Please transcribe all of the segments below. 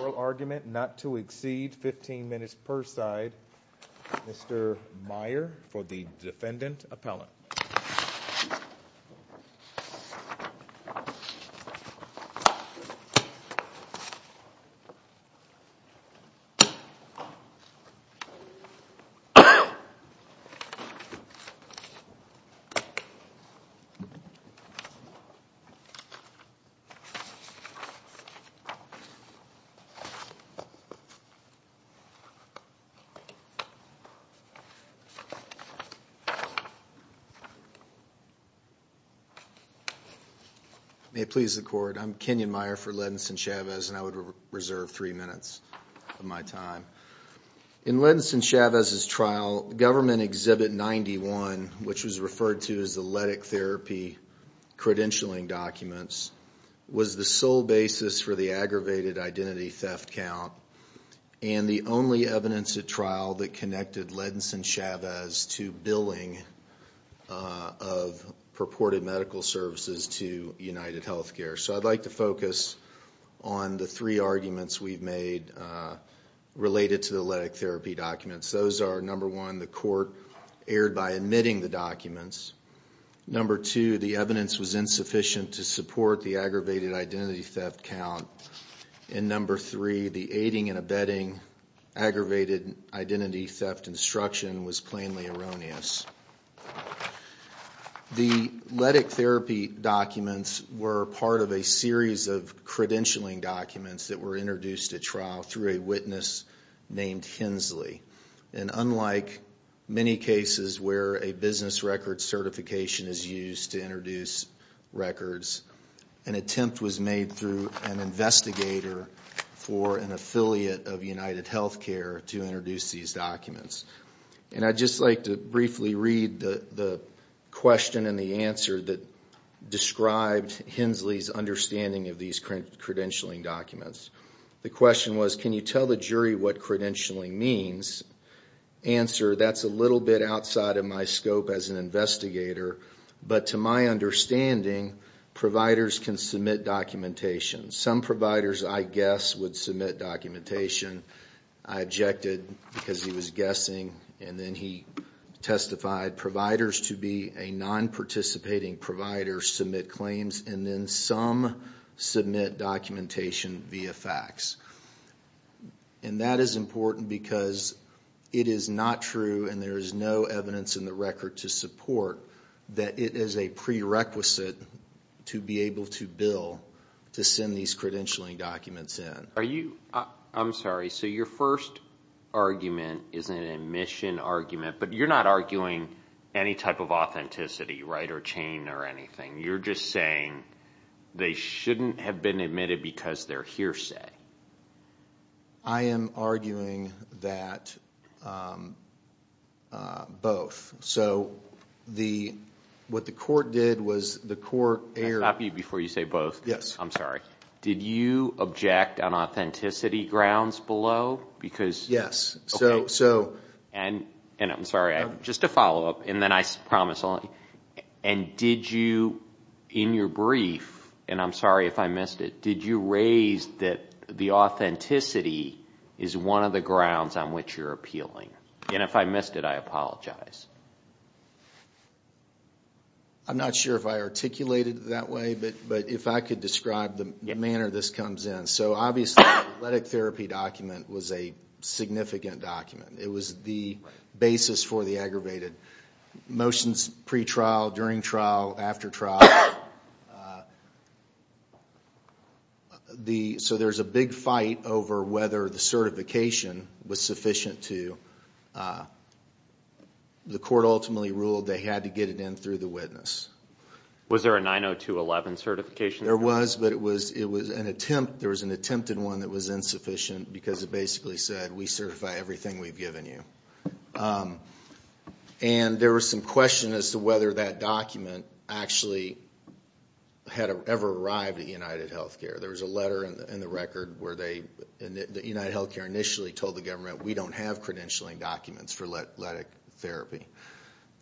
oral argument not to exceed 15 minutes per side. Mr. Meyer for the defendant appellant. May it please the court. I'm Kenyon Meyer for Ledinson Chavez and I would reserve three minutes of my time. In Ledinson Chavez's trial, government exhibit 91, which was referred to as the Ledick therapy credentialing documents, was the sole basis for the aggravated identity theft count and the only evidence at trial that connected Ledinson Chavez to billing. of purported medical services to UnitedHealthcare. So I'd like to focus on the three arguments we've made related to the Ledick therapy documents. Those are number one, the court erred by omitting the documents. Number two, the evidence was insufficient to support the aggravated identity theft count. And number three, the aiding and abetting aggravated identity theft instruction was plainly erroneous. The Ledick therapy documents were part of a series of credentialing documents that were introduced at trial through a witness named Hensley. And unlike many cases where a business record certification is used to introduce records, an attempt was made through an investigator for an affiliate of UnitedHealthcare to introduce these documents. And I'd just like to briefly read the question and the answer that described Hensley's understanding of these credentialing documents. The question was, can you tell the jury what credentialing means? Answer, that's a little bit outside of my scope as an investigator. But to my understanding, providers can submit documentation. Some providers, I guess, would submit documentation. I objected because he was guessing. And then he testified providers to be a non-participating provider submit claims and then some submit documentation via fax. And that is important because it is not true and there is no evidence in the record to support that it is a prerequisite to be able to bill to send these credentialing documents in. I'm sorry, so your first argument is an admission argument, but you're not arguing any type of authenticity, right, or chain or anything. You're just saying they shouldn't have been admitted because they're hearsay. I am arguing that both. So what the court did was the court erred. Can I stop you before you say both? Yes. I'm sorry. Did you object on authenticity grounds below? Yes. And I'm sorry, just to follow up, and then I promise. And did you, in your brief, and I'm sorry if I missed it, did you raise that the authenticity is one of the grounds on which you're appealing? And if I missed it, I apologize. I'm not sure if I articulated it that way, but if I could describe the manner this comes in. So obviously the athletic therapy document was a significant document. It was the basis for the aggravated motions pre-trial, during trial, after trial. So there's a big fight over whether the certification was sufficient to, the court ultimately ruled they had to get it in through the witness. Was there a 902.11 certification? There was, but it was an attempt, there was an attempt in one that was insufficient because it basically said we certify everything we've given you. And there was some question as to whether that document actually had ever arrived at UnitedHealthcare. There was a letter in the record where they, UnitedHealthcare initially told the government we don't have credentialing documents for athletic therapy.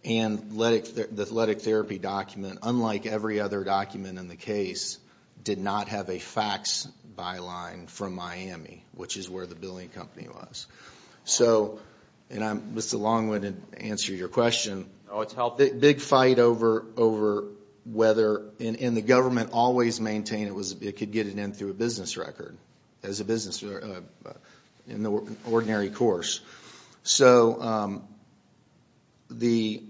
And the athletic therapy document, unlike every other document in the case, did not have a fax byline from Miami, which is where the billing company was. So, and Mr. Long wouldn't answer your question. No, it's healthy. Big fight over whether, and the government always maintained it could get it in through a business record, as a business, in the ordinary course. So the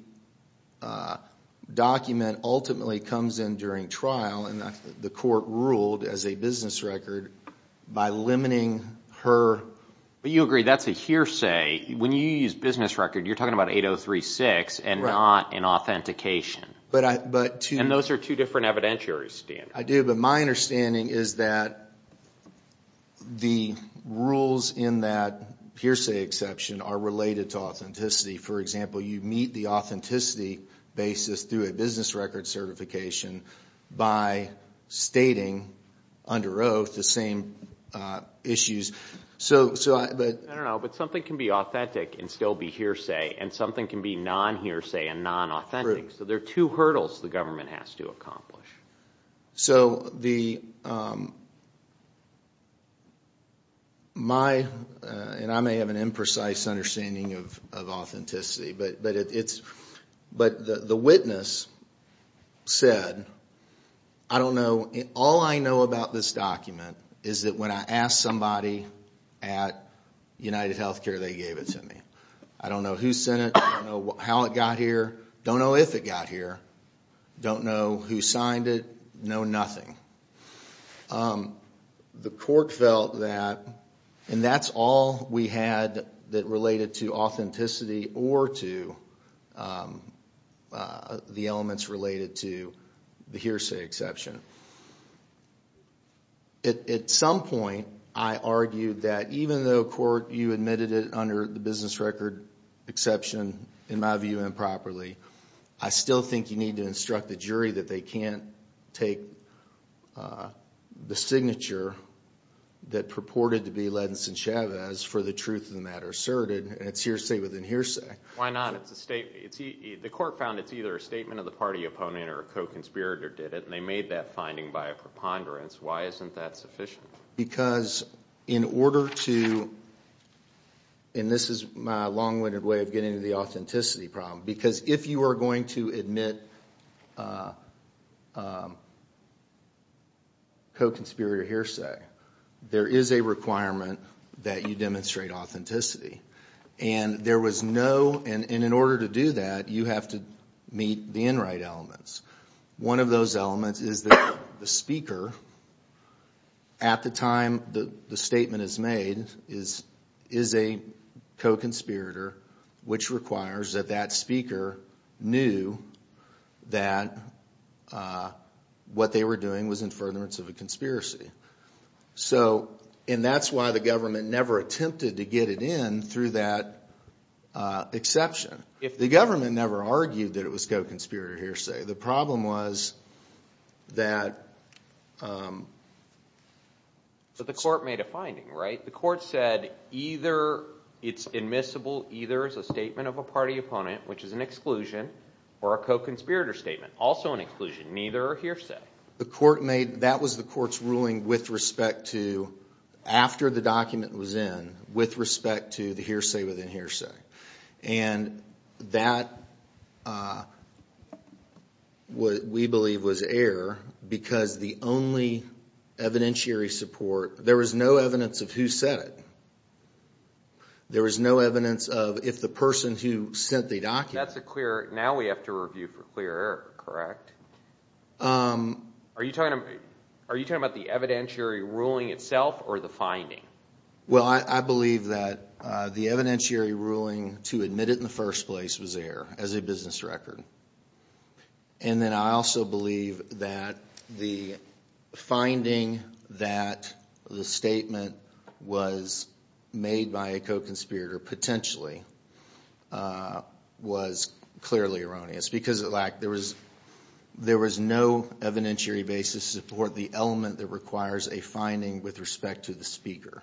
document ultimately comes in during trial and the court ruled as a business record by limiting her. But you agree that's a hearsay. When you use business record, you're talking about 8036 and not an authentication. And those are two different evidentiary standards. I do, but my understanding is that the rules in that hearsay exception are related to authenticity. For example, you meet the authenticity basis through a business record certification by stating under oath the same issues. I don't know, but something can be authentic and still be hearsay, and something can be non-hearsay and non-authentic. So there are two hurdles the government has to accomplish. So the, my, and I may have an imprecise understanding of authenticity, but the witness said, I don't know. All I know about this document is that when I asked somebody at UnitedHealthcare, they gave it to me. I don't know who sent it. I don't know how it got here. Don't know if it got here. Don't know who signed it. Know nothing. The court felt that, and that's all we had that related to authenticity or to the elements related to the hearsay exception. At some point, I argued that even though, Court, you admitted it under the business record exception, in my view, improperly, I still think you need to instruct the jury that they can't take the signature that purported to be Ladinson Chavez for the truth of the matter asserted, and it's hearsay within hearsay. Why not? The court found it's either a statement of the party opponent or a co-conspirator did it, and they made that finding by a preponderance. Why isn't that sufficient? Because in order to, and this is my long-winded way of getting to the authenticity problem, because if you are going to admit co-conspirator hearsay, there is a requirement that you demonstrate authenticity. And there was no, and in order to do that, you have to meet the inright elements. One of those elements is that the speaker, at the time the statement is made, is a co-conspirator, which requires that that speaker knew that what they were doing was in furtherance of a conspiracy. So, and that's why the government never attempted to get it in through that exception. The government never argued that it was co-conspirator hearsay. The problem was that – But the court made a finding, right? The court said either it's admissible either as a statement of a party opponent, which is an exclusion, or a co-conspirator statement, also an exclusion. Neither are hearsay. The court made, that was the court's ruling with respect to, after the document was in, with respect to the hearsay within hearsay. And that, we believe, was error because the only evidentiary support, there was no evidence of who said it. There was no evidence of if the person who sent the document – Are you talking about the evidentiary ruling itself or the finding? Well, I believe that the evidentiary ruling to admit it in the first place was error as a business record. And then I also believe that the finding that the statement was made by a co-conspirator potentially was clearly erroneous because it lacked, there was no evidentiary basis to support the element that requires a finding with respect to the speaker.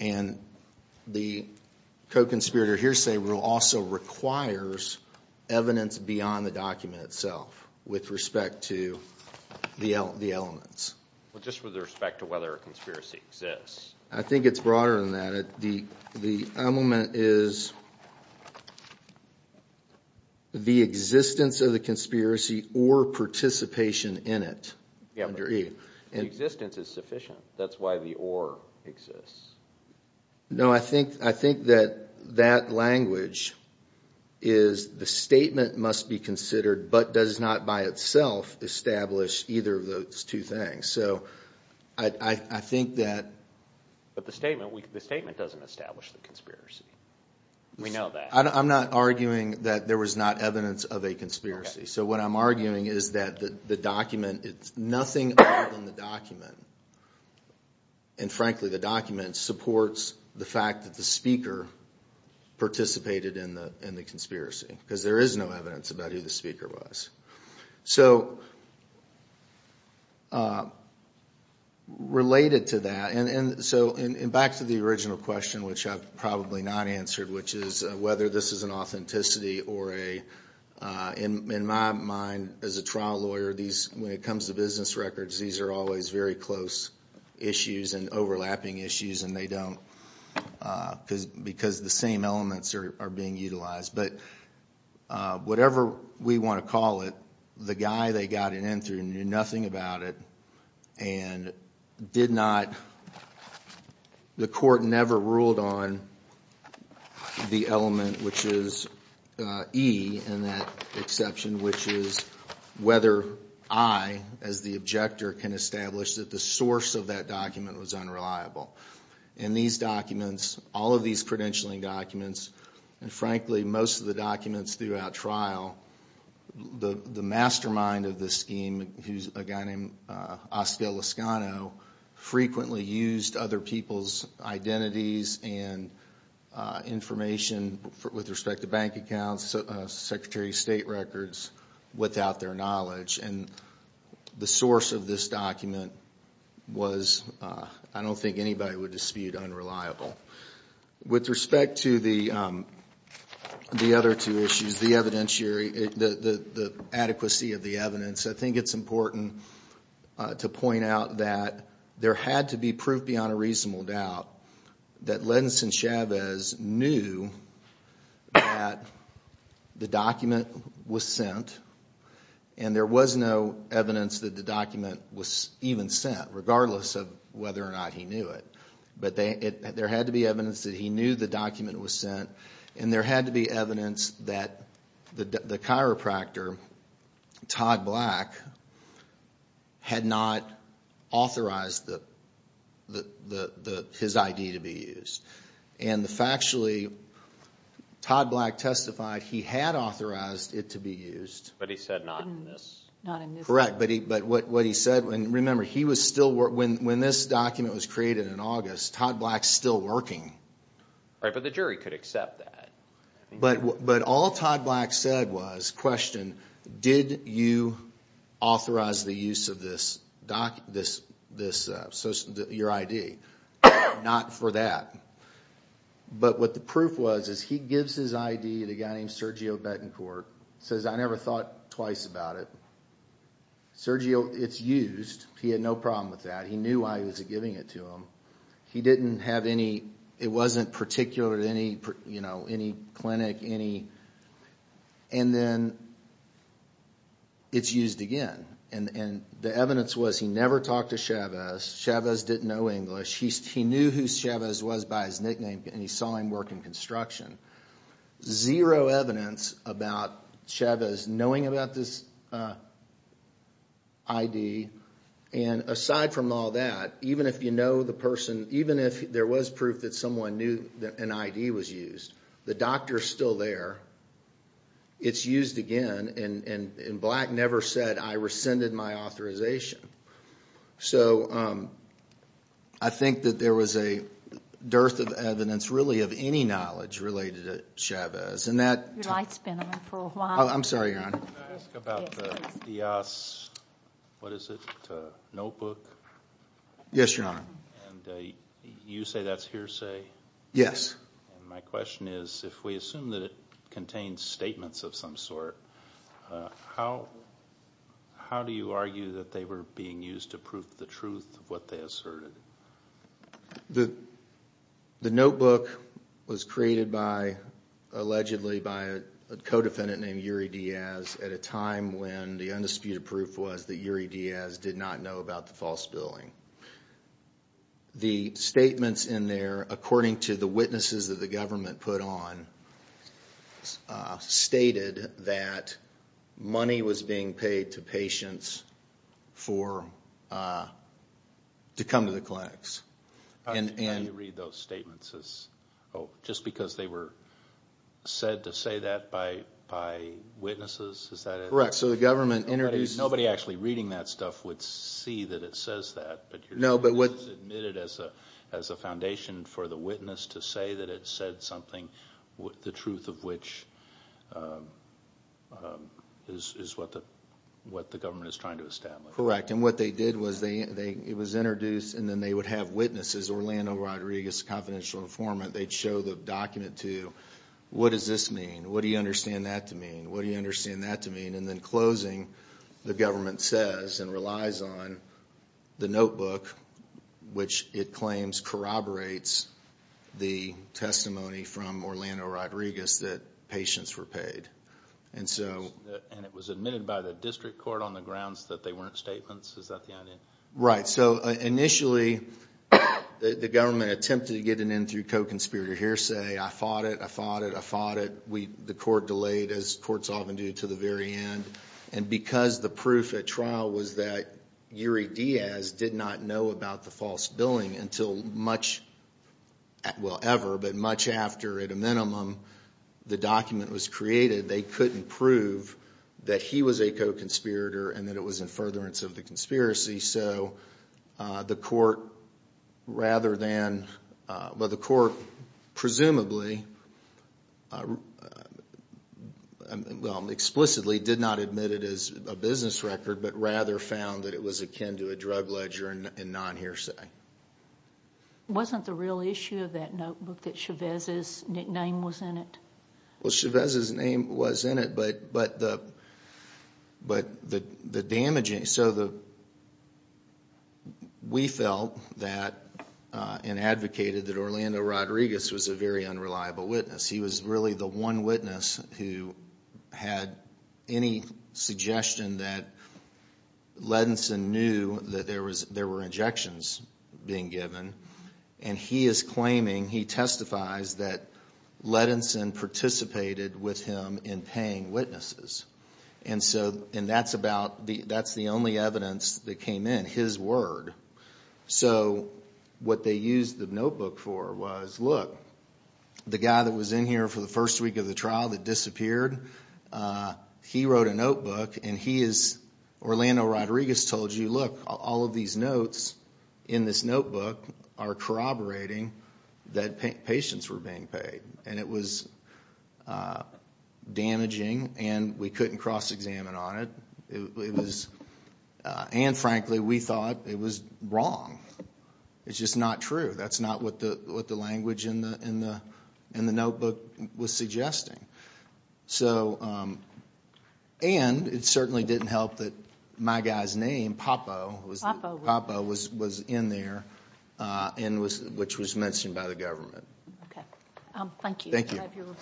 And the co-conspirator hearsay rule also requires evidence beyond the document itself with respect to the elements. Well, just with respect to whether a conspiracy exists. I think it's broader than that. The element is the existence of the conspiracy or participation in it. The existence is sufficient. That's why the or exists. No, I think that that language is the statement must be considered but does not by itself establish either of those two things. So I think that – But the statement doesn't establish the conspiracy. We know that. I'm not arguing that there was not evidence of a conspiracy. So what I'm arguing is that the document – it's nothing other than the document. And frankly, the document supports the fact that the speaker participated in the conspiracy because there is no evidence about who the speaker was. So related to that, and so back to the original question which I've probably not answered, which is whether this is an authenticity or a – in my mind as a trial lawyer, when it comes to business records, these are always very close issues and overlapping issues and they don't because the same elements are being utilized. But whatever we want to call it, the guy they got it in through knew nothing about it and did not – the court never ruled on the element which is E in that exception, which is whether I, as the objector, can establish that the source of that document was unreliable. In these documents, all of these credentialing documents, and frankly, most of the documents throughout trial, the mastermind of this scheme, who's a guy named Oscar Lascano, frequently used other people's identities and information with respect to bank accounts, Secretary of State records, without their knowledge. And the source of this document was, I don't think anybody would dispute, unreliable. With respect to the other two issues, the adequacy of the evidence, I think it's important to point out that there had to be proof beyond a reasonable doubt that Lendon Sinchavez knew that the document was sent and there was no evidence that the document was even sent, regardless of whether or not he knew it. But there had to be evidence that he knew the document was sent and there had to be evidence that the chiropractor, Todd Black, had not authorized his ID to be used. And factually, Todd Black testified he had authorized it to be used. But he said not in this case. Correct, but what he said, and remember, when this document was created in August, Todd Black's still working. Right, but the jury could accept that. But all Todd Black said was, question, did you authorize the use of your ID? Not for that. But what the proof was, is he gives his ID to a guy named Sergio Betancourt, says I never thought twice about it. Sergio, it's used, he had no problem with that, he knew why he was giving it to him. He didn't have any, it wasn't particular to any clinic. And then it's used again. And the evidence was he never talked to Chavez, Chavez didn't know English, he knew who Chavez was by his nickname and he saw him work in construction. Zero evidence about Chavez knowing about this ID. And aside from all that, even if you know the person, even if there was proof that someone knew an ID was used, the doctor's still there, it's used again, and Black never said I rescinded my authorization. So I think that there was a dearth of evidence, really, of any knowledge related to Chavez. Your light's been on for a while. I'm sorry, Your Honor. Can I ask about the Diaz, what is it, notebook? Yes, Your Honor. And you say that's hearsay? Yes. And my question is, if we assume that it contains statements of some sort, how do you argue that they were being used to prove the truth of what they asserted? The notebook was created by, allegedly by a co-defendant named Uri Diaz at a time when the undisputed proof was that Uri Diaz did not know about the false billing. The statements in there, according to the witnesses that the government put on, stated that money was being paid to patients to come to the clinics. How do you read those statements? Just because they were said to say that by witnesses? Correct. So the government introduced Nobody actually reading that stuff would see that it says that. No, but what It was admitted as a foundation for the witness to say that it said something, the truth of which is what the government is trying to establish. Correct. And what they did was it was introduced and then they would have witnesses, Orlando Rodriguez, confidential informant, they'd show the document to you. What does this mean? What do you understand that to mean? What do you understand that to mean? the government says and relies on the notebook, which it claims corroborates the testimony from Orlando Rodriguez that patients were paid. And it was admitted by the district court on the grounds that they weren't statements? Is that the idea? Right. So initially the government attempted to get an in through co-conspirator hearsay. I fought it. I fought it. I fought it. The court delayed, as courts often do, to the very end. And because the proof at trial was that Yuri Diaz did not know about the false billing until much, well, ever, but much after, at a minimum, the document was created, they couldn't prove that he was a co-conspirator and that it was in furtherance of the conspiracy. So the court rather than, well, the court presumably, well, explicitly did not admit it as a business record, but rather found that it was akin to a drug ledger and non-hearsay. Wasn't the real issue of that notebook that Chavez's nickname was in it? Well, Chavez's name was in it, but the damaging, so we felt that and advocated that Orlando Rodriguez was a very unreliable witness. He was really the one witness who had any suggestion that Ledinson knew that there were injections being given. And he is claiming, he testifies, that Ledinson participated with him in paying witnesses. And that's the only evidence that came in, his word. So what they used the notebook for was, look, the guy that was in here for the first week of the trial that disappeared, he wrote a notebook and he is, Orlando Rodriguez told you, look, all of these notes in this notebook are corroborating that patients were being paid. And it was damaging and we couldn't cross-examine on it. And, frankly, we thought it was wrong. It's just not true. That's not what the language in the notebook was suggesting. And it certainly didn't help that my guy's name, Popo, was in there, which was mentioned by the government. Okay. Thank you. Thank you.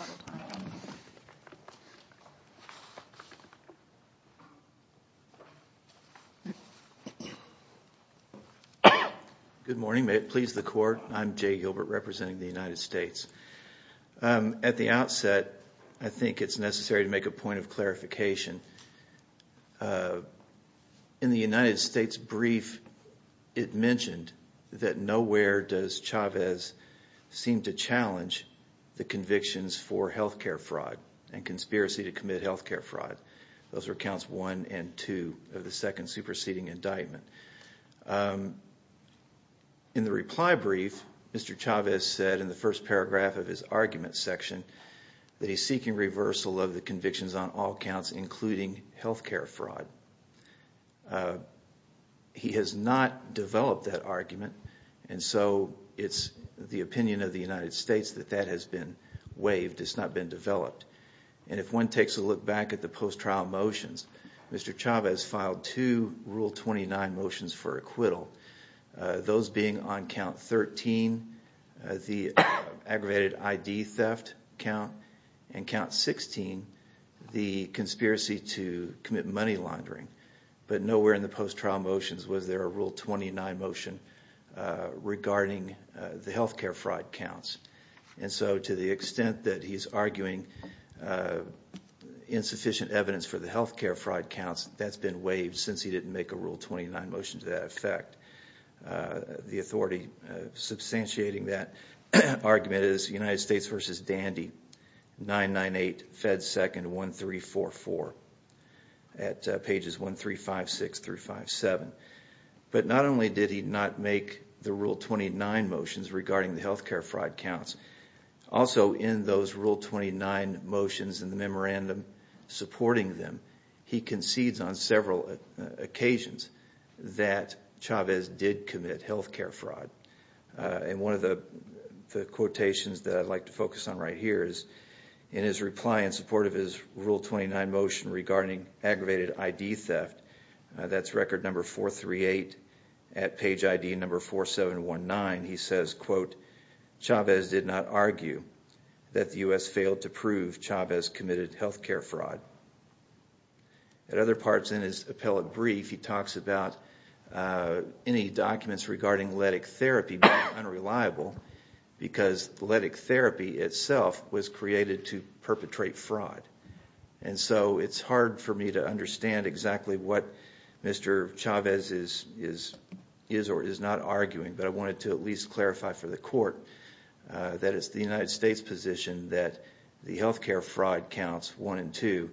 Good morning. May it please the Court. I'm Jay Gilbert representing the United States. In the United States brief, it mentioned that nowhere does Chavez seem to challenge the convictions for health care fraud and conspiracy to commit health care fraud. Those were counts one and two of the second superseding indictment. In the reply brief, Mr. Chavez said in the first paragraph of his argument section that he's seeking reversal of the convictions on all counts, including health care fraud. He has not developed that argument, and so it's the opinion of the United States that that has been waived. It's not been developed. And if one takes a look back at the post-trial motions, Mr. Chavez filed two Rule 29 motions for acquittal, those being on count 13, the aggravated ID theft count, and count 16, the conspiracy to commit money laundering. But nowhere in the post-trial motions was there a Rule 29 motion regarding the health care fraud counts. And so to the extent that he's arguing insufficient evidence for the health care fraud counts, that's been waived since he didn't make a Rule 29 motion to that effect. The authority substantiating that argument is United States v. Dandy, 998 Fed 2nd 1344 at pages 1356-357. But not only did he not make the Rule 29 motions regarding the health care fraud counts, also in those Rule 29 motions and the memorandum supporting them, he concedes on several occasions that Chavez did commit health care fraud. And one of the quotations that I'd like to focus on right here is in his reply in support of his Rule 29 motion regarding aggravated ID theft, that's record number 438 at page ID number 4719, he says, quote, Chavez did not argue that the U.S. failed to prove Chavez committed health care fraud. At other parts in his appellate brief, he talks about any documents regarding Lytic therapy being unreliable because Lytic therapy itself was created to perpetrate fraud. And so it's hard for me to understand exactly what Mr. Chavez is or is not arguing, but I wanted to at least clarify for the court that it's the United States position that the health care fraud counts, one and two,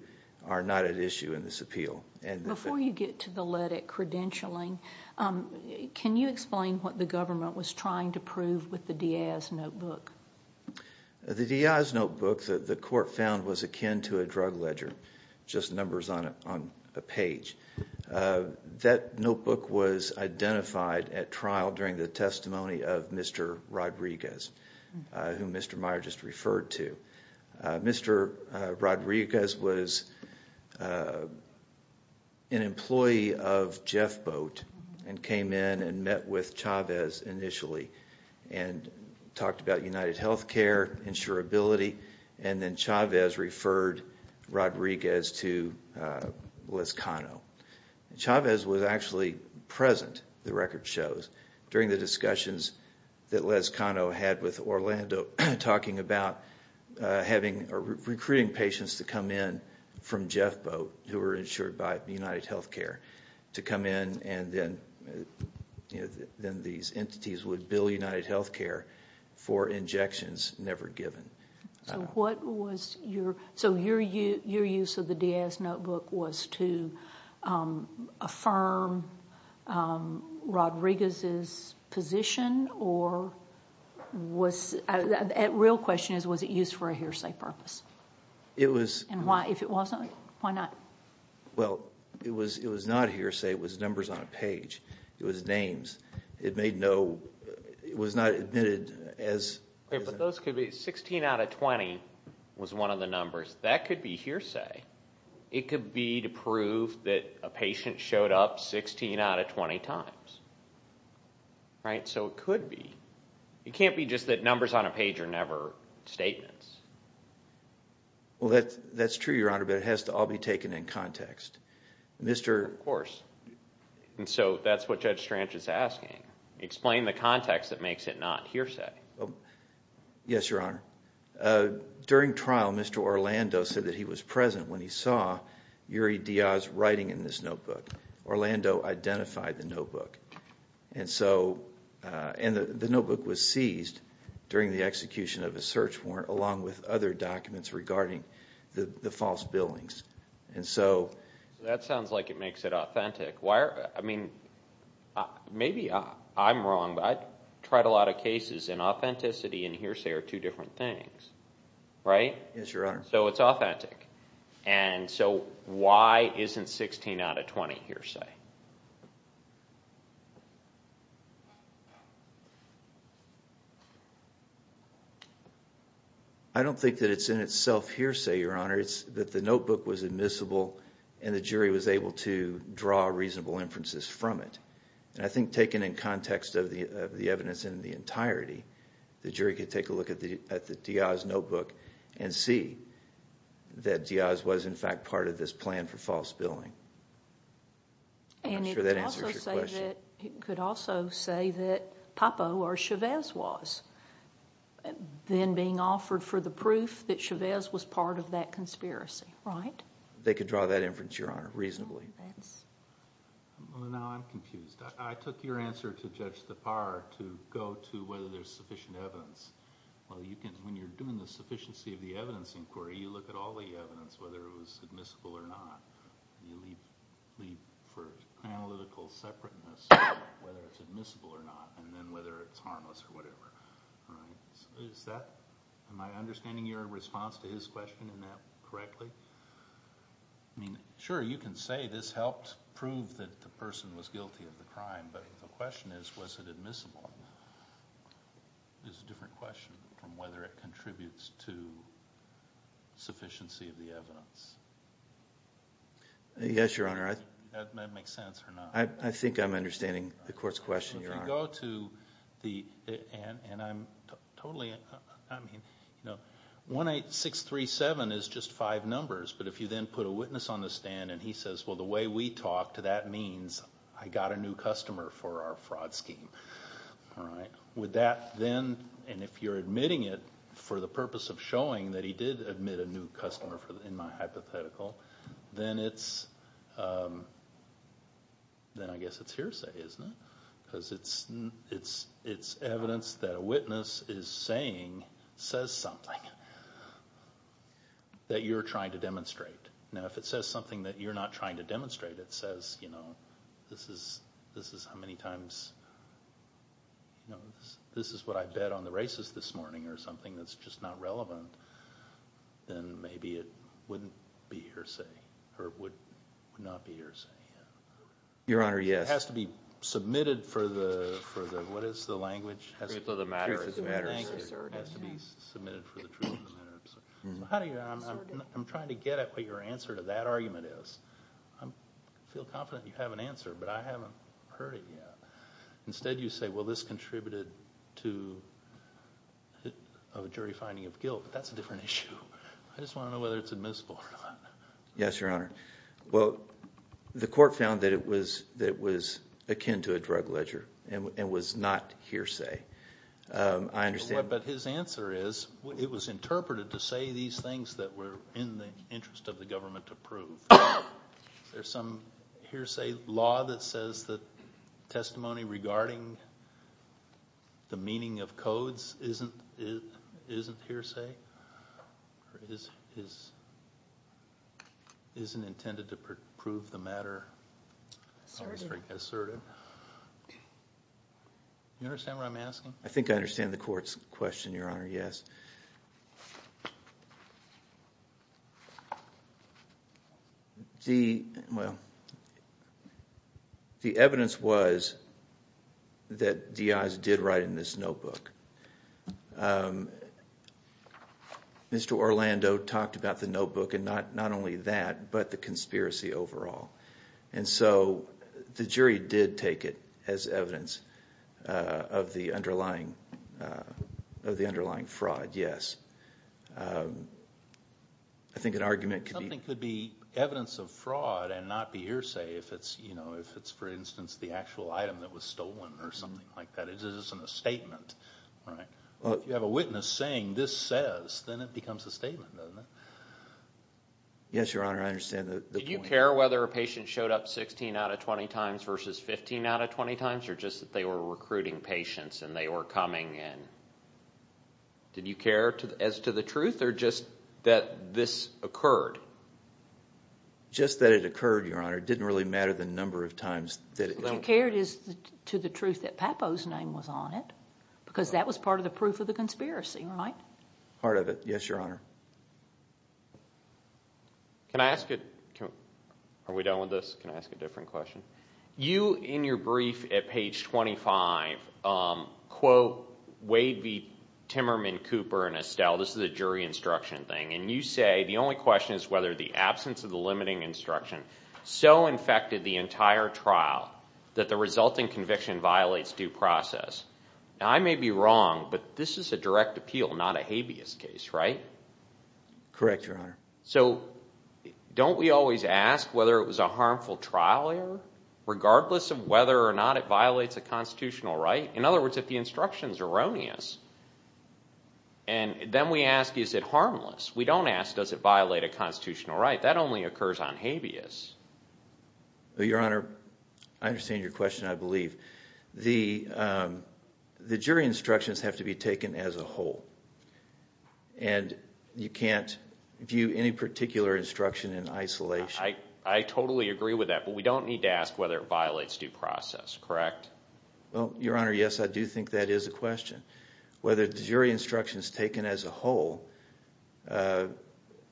are not at issue in this appeal. Before you get to the Lytic credentialing, can you explain what the government was trying to prove with the Diaz notebook? The Diaz notebook, the court found, was akin to a drug ledger, just numbers on a page. That notebook was identified at trial during the testimony of Mr. Rodriguez, who Mr. Meyer just referred to. Mr. Rodriguez was an employee of Jeff Boat and came in and met with Chavez initially and talked about UnitedHealthcare, insurability, and then Chavez referred Rodriguez to Les Cano. Chavez was actually present, the record shows, during the discussions that Les Cano had with Orlando, talking about recruiting patients to come in from Jeff Boat, who were insured by UnitedHealthcare, to come in and then these entities would bill UnitedHealthcare for injections never given. So your use of the Diaz notebook was to affirm Rodriguez's position? The real question is, was it used for a hearsay purpose? It was. If it wasn't, why not? Well, it was not a hearsay, it was numbers on a page. It was names. It made no, it was not admitted as... But those could be, 16 out of 20 was one of the numbers, that could be hearsay. It could be to prove that a patient showed up 16 out of 20 times. Right, so it could be. It can't be just that numbers on a page are never statements. Well, that's true, Your Honor, but it has to all be taken in context. Of course. And so that's what Judge Strange is asking. Explain the context that makes it not hearsay. Yes, Your Honor. During trial, Mr. Orlando said that he was present when he saw Yuri Diaz writing in this notebook. Orlando identified the notebook. And so, the notebook was seized during the execution of a search warrant, along with other documents regarding the false billings. And so... That sounds like it makes it authentic. I mean, maybe I'm wrong, but I've tried a lot of cases, and authenticity and hearsay are two different things. Right? Yes, Your Honor. So it's authentic. And so, why isn't 16 out of 20 hearsay? I don't think that it's in itself hearsay, Your Honor. It's that the notebook was admissible, and the jury was able to draw reasonable inferences from it. And I think taken in context of the evidence in the entirety, the jury could take a look at the Diaz notebook and see that Diaz was, in fact, part of this plan for false billing. I'm not sure that answers your question. And it could also say that Papo or Chavez was then being offered for the proof that Chavez was part of that conspiracy, right? They could draw that inference, Your Honor, reasonably. Now I'm confused. I took your answer to Judge Tappar to go to whether there's sufficient evidence. Well, when you're doing the sufficiency of the evidence inquiry, you look at all the evidence, whether it was admissible or not. You leave for analytical separateness, whether it's admissible or not, and then whether it's harmless or whatever. All right? Am I understanding your response to his question in that correctly? I mean, sure, you can say this helped prove that the person was guilty of the crime. But the question is, was it admissible? It's a different question from whether it contributes to sufficiency of the evidence. Yes, Your Honor. Does that make sense or not? And I'm totally, I mean, 18637 is just five numbers, but if you then put a witness on the stand and he says, well, the way we talked, that means I got a new customer for our fraud scheme. All right? Would that then, and if you're admitting it for the purpose of showing that he did admit a new customer in my hypothetical, then I guess it's hearsay, isn't it? Because it's evidence that a witness is saying, says something, that you're trying to demonstrate. Now, if it says something that you're not trying to demonstrate, it says, you know, this is how many times, you know, this is what I bet on the races this morning, or something that's just not relevant, then maybe it wouldn't be hearsay, or it would not be hearsay. Your Honor, yes. It has to be submitted for the, what is the language? Truth of the matter. It has to be submitted for the truth of the matter. I'm trying to get at what your answer to that argument is. I feel confident you have an answer, but I haven't heard it yet. Instead you say, well, this contributed to a jury finding of guilt, but that's a different issue. I just want to know whether it's admissible or not. Yes, Your Honor. Well, the court found that it was akin to a drug ledger and was not hearsay. I understand. But his answer is, it was interpreted to say these things that were in the interest of the government to prove. There's some hearsay law that says that testimony regarding the meaning of codes isn't hearsay, or isn't intended to prove the matter asserted. Do you understand what I'm asking? I think I understand the court's question, Your Honor, yes. Well, the evidence was that D.I.s did write in this notebook. Mr. Orlando talked about the notebook and not only that, but the conspiracy overall. And so the jury did take it as evidence of the underlying fraud, yes. I think an argument could be... Something could be evidence of fraud and not be hearsay if it's, for instance, the actual item that was stolen or something like that. It isn't a statement, right? If you have a witness saying this says, then it becomes a statement, doesn't it? Yes, Your Honor, I understand the point. Did you care whether a patient showed up 16 out of 20 times versus 15 out of 20 times or just that they were recruiting patients and they were coming in? Did you care as to the truth or just that this occurred? Just that it occurred, Your Honor. It didn't really matter the number of times that it occurred. What you cared is to the truth that Papo's name was on it because that was part of the proof of the conspiracy, right? Part of it, yes, Your Honor. Can I ask a... Are we done with this? Can I ask a different question? You, in your brief at page 25, quote Wade v. Timmerman, Cooper, and Estelle. This is a jury instruction thing. And you say the only question is whether the absence of the limiting instruction so infected the entire trial that the resulting conviction violates due process. Now, I may be wrong, but this is a direct appeal, not a habeas case, right? Correct, Your Honor. So don't we always ask whether it was a harmful trial error regardless of whether or not it violates a constitutional right? In other words, if the instruction is erroneous, then we ask is it harmless. We don't ask does it violate a constitutional right. That only occurs on habeas. Your Honor, I understand your question, I believe. The jury instructions have to be taken as a whole. And you can't view any particular instruction in isolation. I totally agree with that. But we don't need to ask whether it violates due process, correct? Well, Your Honor, yes, I do think that is a question. Whether the jury instructions taken as a whole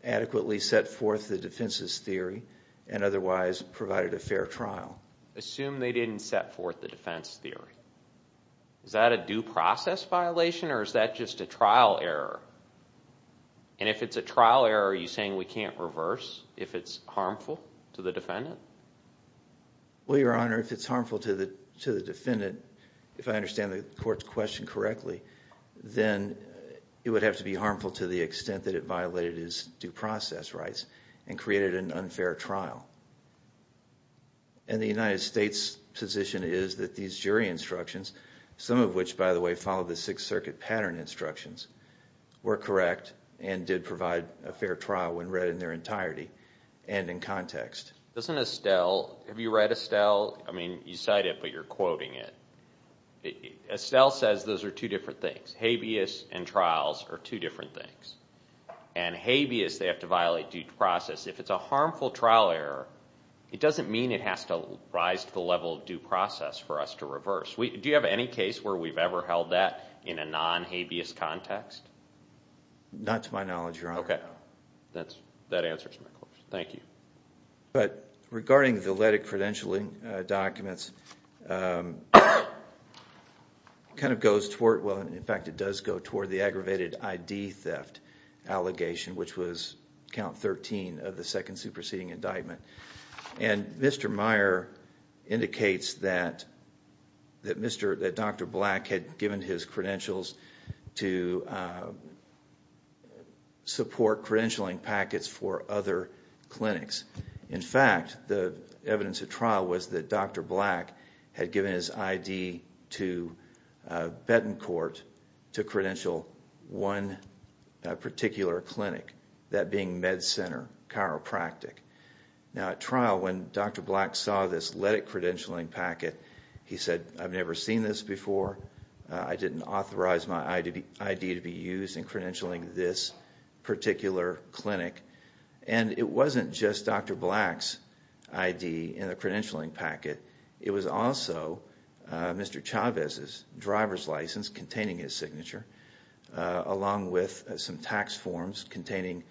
adequately set forth the defense's theory and otherwise provided a fair trial. Assume they didn't set forth the defense theory. Is that a due process violation or is that just a trial error? And if it's a trial error, are you saying we can't reverse if it's harmful to the defendant? Well, Your Honor, if it's harmful to the defendant, if I understand the court's question correctly, then it would have to be harmful to the extent that it violated his due process rights and created an unfair trial. And the United States' position is that these jury instructions, some of which, by the way, follow the Sixth Circuit pattern instructions, were correct and did provide a fair trial when read in their entirety and in context. Doesn't Estelle, have you read Estelle? I mean, you cite it, but you're quoting it. Estelle says those are two different things. Habeas and trials are two different things. And habeas, they have to violate due process. If it's a harmful trial error, it doesn't mean it has to rise to the level of due process for us to reverse. Do you have any case where we've ever held that in a non-habeas context? Not to my knowledge, Your Honor. Okay. That answers my question. Thank you. But regarding the leddick credentialing documents, it kind of goes toward, well, in fact, it does go toward the aggravated ID theft allegation, which was count 13 of the second superseding indictment. And Mr. Meyer indicates that Dr. Black had given his credentials to support credentialing packets for other clinics. In fact, the evidence at trial was that Dr. Black had given his ID to Betancourt to credential one particular clinic, that being MedCenter Chiropractic. Now, at trial, when Dr. Black saw this leddick credentialing packet, he said, I've never seen this before. I didn't authorize my ID to be used in credentialing this particular clinic. And it wasn't just Dr. Black's ID in the credentialing packet. It was also Mr. Chavez's driver's license containing his signature, along with some tax forms containing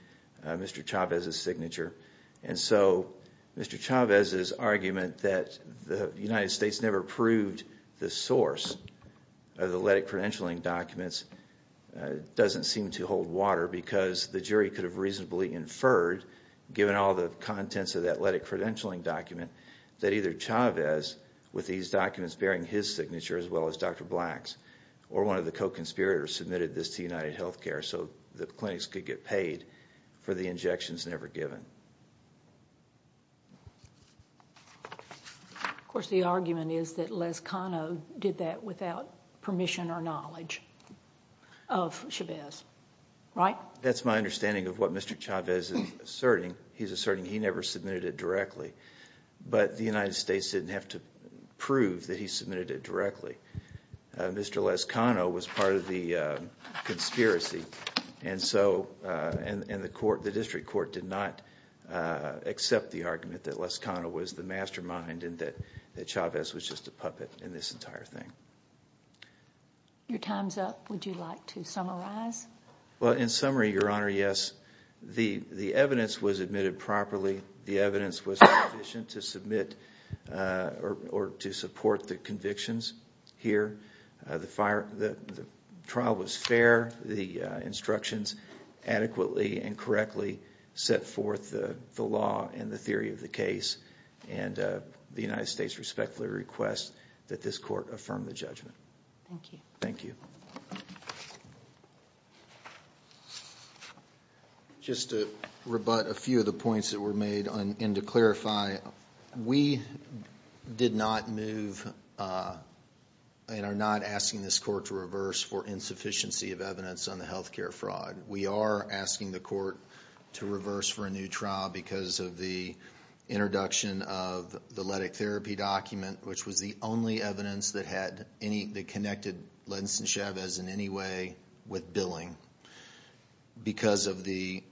Mr. Chavez's signature. And so Mr. Chavez's argument that the United States never approved the source of the leddick credentialing documents doesn't seem to hold water because the jury could have reasonably inferred, given all the contents of that leddick credentialing document, that either Chavez, with these documents bearing his signature as well as Dr. Black's, or one of the co-conspirators submitted this to UnitedHealthcare so the clinics could get paid for the injections never given. Of course, the argument is that Les Cano did that without permission or knowledge of Chavez, right? That's my understanding of what Mr. Chavez is asserting. He's asserting he never submitted it directly, but the United States didn't have to prove that he submitted it directly. Mr. Les Cano was part of the conspiracy, and the district court did not accept the argument that Les Cano was the mastermind and that Chavez was just a puppet in this entire thing. Your time's up. Would you like to summarize? Well, in summary, Your Honor, yes. The evidence was admitted properly. The evidence was sufficient to support the convictions here. The trial was fair. The instructions adequately and correctly set forth the law and the theory of the case, and the United States respectfully requests that this court affirm the judgment. Thank you. Thank you. Just to rebut a few of the points that were made and to clarify, we did not move and are not asking this court to reverse for insufficiency of evidence on the health care fraud. We are asking the court to reverse for a new trial because of the introduction of the Lettick therapy document, which was the only evidence that connected Lentz and Chavez in any way with billing because of the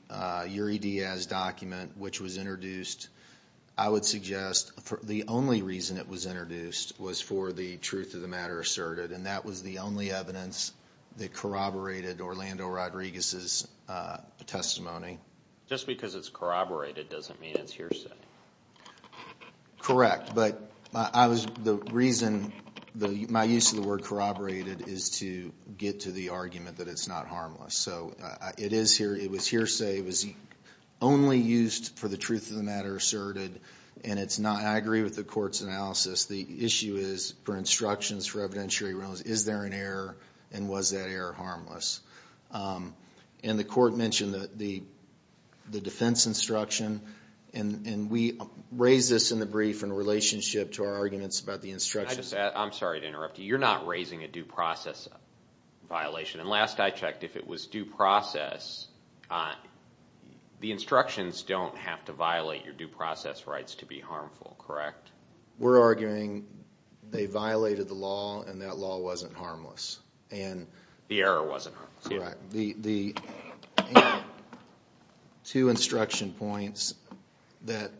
Uri Diaz document, which was introduced. I would suggest the only reason it was introduced was for the truth of the matter asserted, and that was the only evidence that corroborated Orlando Rodriguez's testimony. Just because it's corroborated doesn't mean it's hearsay. Correct, but the reason my use of the word corroborated is to get to the argument that it's not harmless. So it was hearsay. It was only used for the truth of the matter asserted, and it's not. I agree with the court's analysis. The issue is for instructions for evidentiary rulings, is there an error and was that error harmless? And the court mentioned the defense instruction, and we raised this in the brief in relationship to our arguments about the instruction. I'm sorry to interrupt you. You're not raising a due process violation. And last I checked, if it was due process, the instructions don't have to violate your due process rights to be harmful, correct? We're arguing they violated the law and that law wasn't harmless. The error wasn't harmless. That's correct. The two instruction points that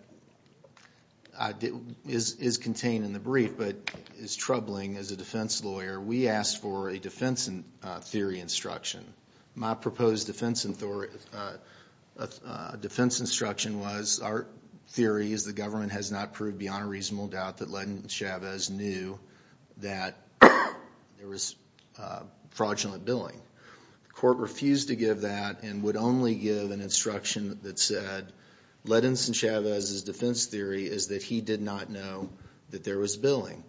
is contained in the brief but is troubling as a defense lawyer, we asked for a defense theory instruction. My proposed defense instruction was our theory is the government has not proved beyond a reasonable doubt that Ledin and Chavez knew that there was fraudulent billing. The court refused to give that and would only give an instruction that said, Ledin's and Chavez's defense theory is that he did not know that there was billing.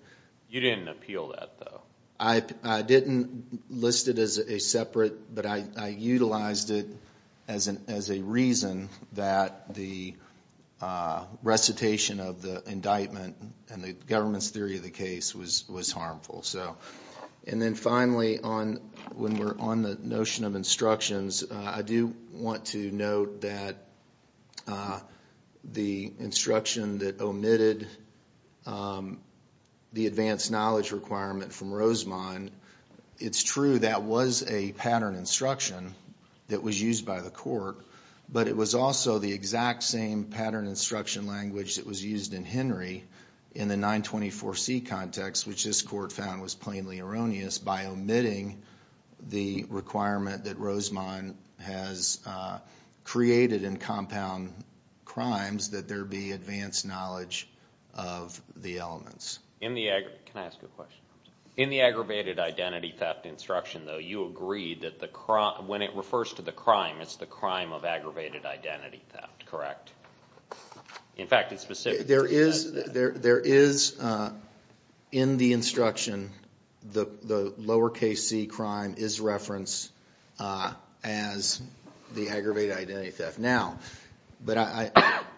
You didn't appeal that, though. I didn't list it as a separate, but I utilized it as a reason that the recitation of the indictment and the government's theory of the case was harmful. And then finally, when we're on the notion of instructions, I do want to note that the instruction that omitted the advanced knowledge requirement from Rosemond, it's true that was a pattern instruction that was used by the court, but it was also the exact same pattern instruction language that was used in Henry in the 924C context, which this court found was plainly erroneous, by omitting the requirement that Rosemond has created in compound crimes that there be advanced knowledge of the elements. Can I ask a question? In the aggravated identity theft instruction, though, you agreed that when it refers to the crime, it's the crime of aggravated identity theft, correct? In fact, it's specific. There is, in the instruction, the lower case C crime is referenced as the aggravated identity theft. But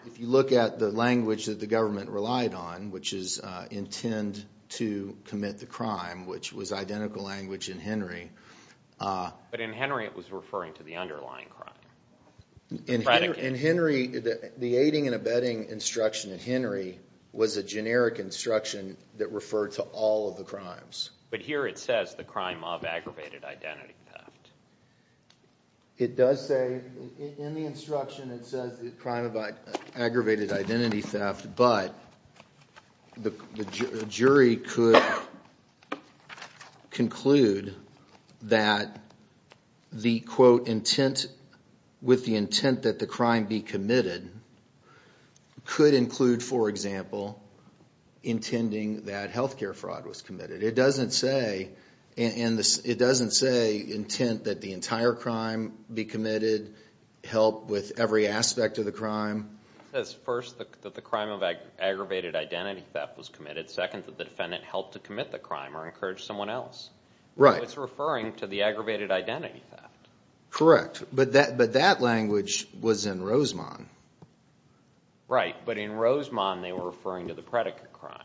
if you look at the language that the government relied on, which is intend to commit the crime, which was identical language in Henry. But in Henry, it was referring to the underlying crime. In Henry, the aiding and abetting instruction in Henry was a generic instruction that referred to all of the crimes. But here it says the crime of aggravated identity theft. It does say, in the instruction, it says the crime of aggravated identity theft, but the jury could conclude that the, quote, intent, with the intent that the crime be committed, could include, for example, intending that health care fraud was committed. It doesn't say intent that the entire crime be committed, help with every aspect of the crime. It says, first, that the crime of aggravated identity theft was committed. Second, that the defendant helped to commit the crime or encouraged someone else. Right. It's referring to the aggravated identity theft. Correct. But that language was in Rosemont. Right. But in Rosemont, they were referring to the predicate crime.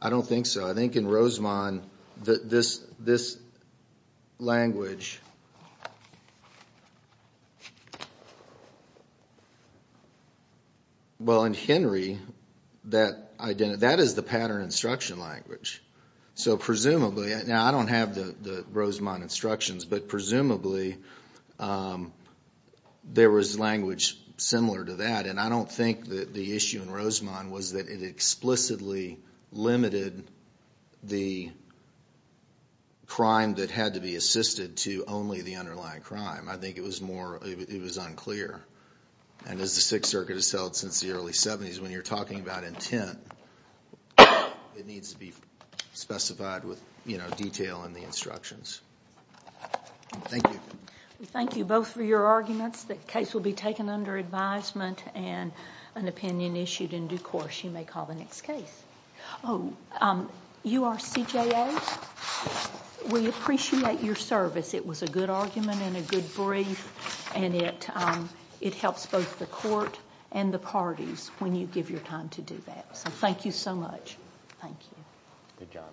I don't think so. I think in Rosemont, this language, well, in Henry, that is the pattern instruction language. So presumably, now I don't have the Rosemont instructions, but presumably there was language similar to that. And I don't think that the issue in Rosemont was that it explicitly limited the crime that had to be assisted to only the underlying crime. I think it was more, it was unclear. And as the Sixth Circuit has held since the early 70s, when you're talking about intent, it needs to be specified with, you know, detail in the instructions. Thank you. Thank you both for your arguments. The case will be taken under advisement and an opinion issued in due course. You may call the next case. Oh, you are CJA? We appreciate your service. It was a good argument and a good brief, and it helps both the court and the parties when you give your time to do that. So thank you so much. Thank you.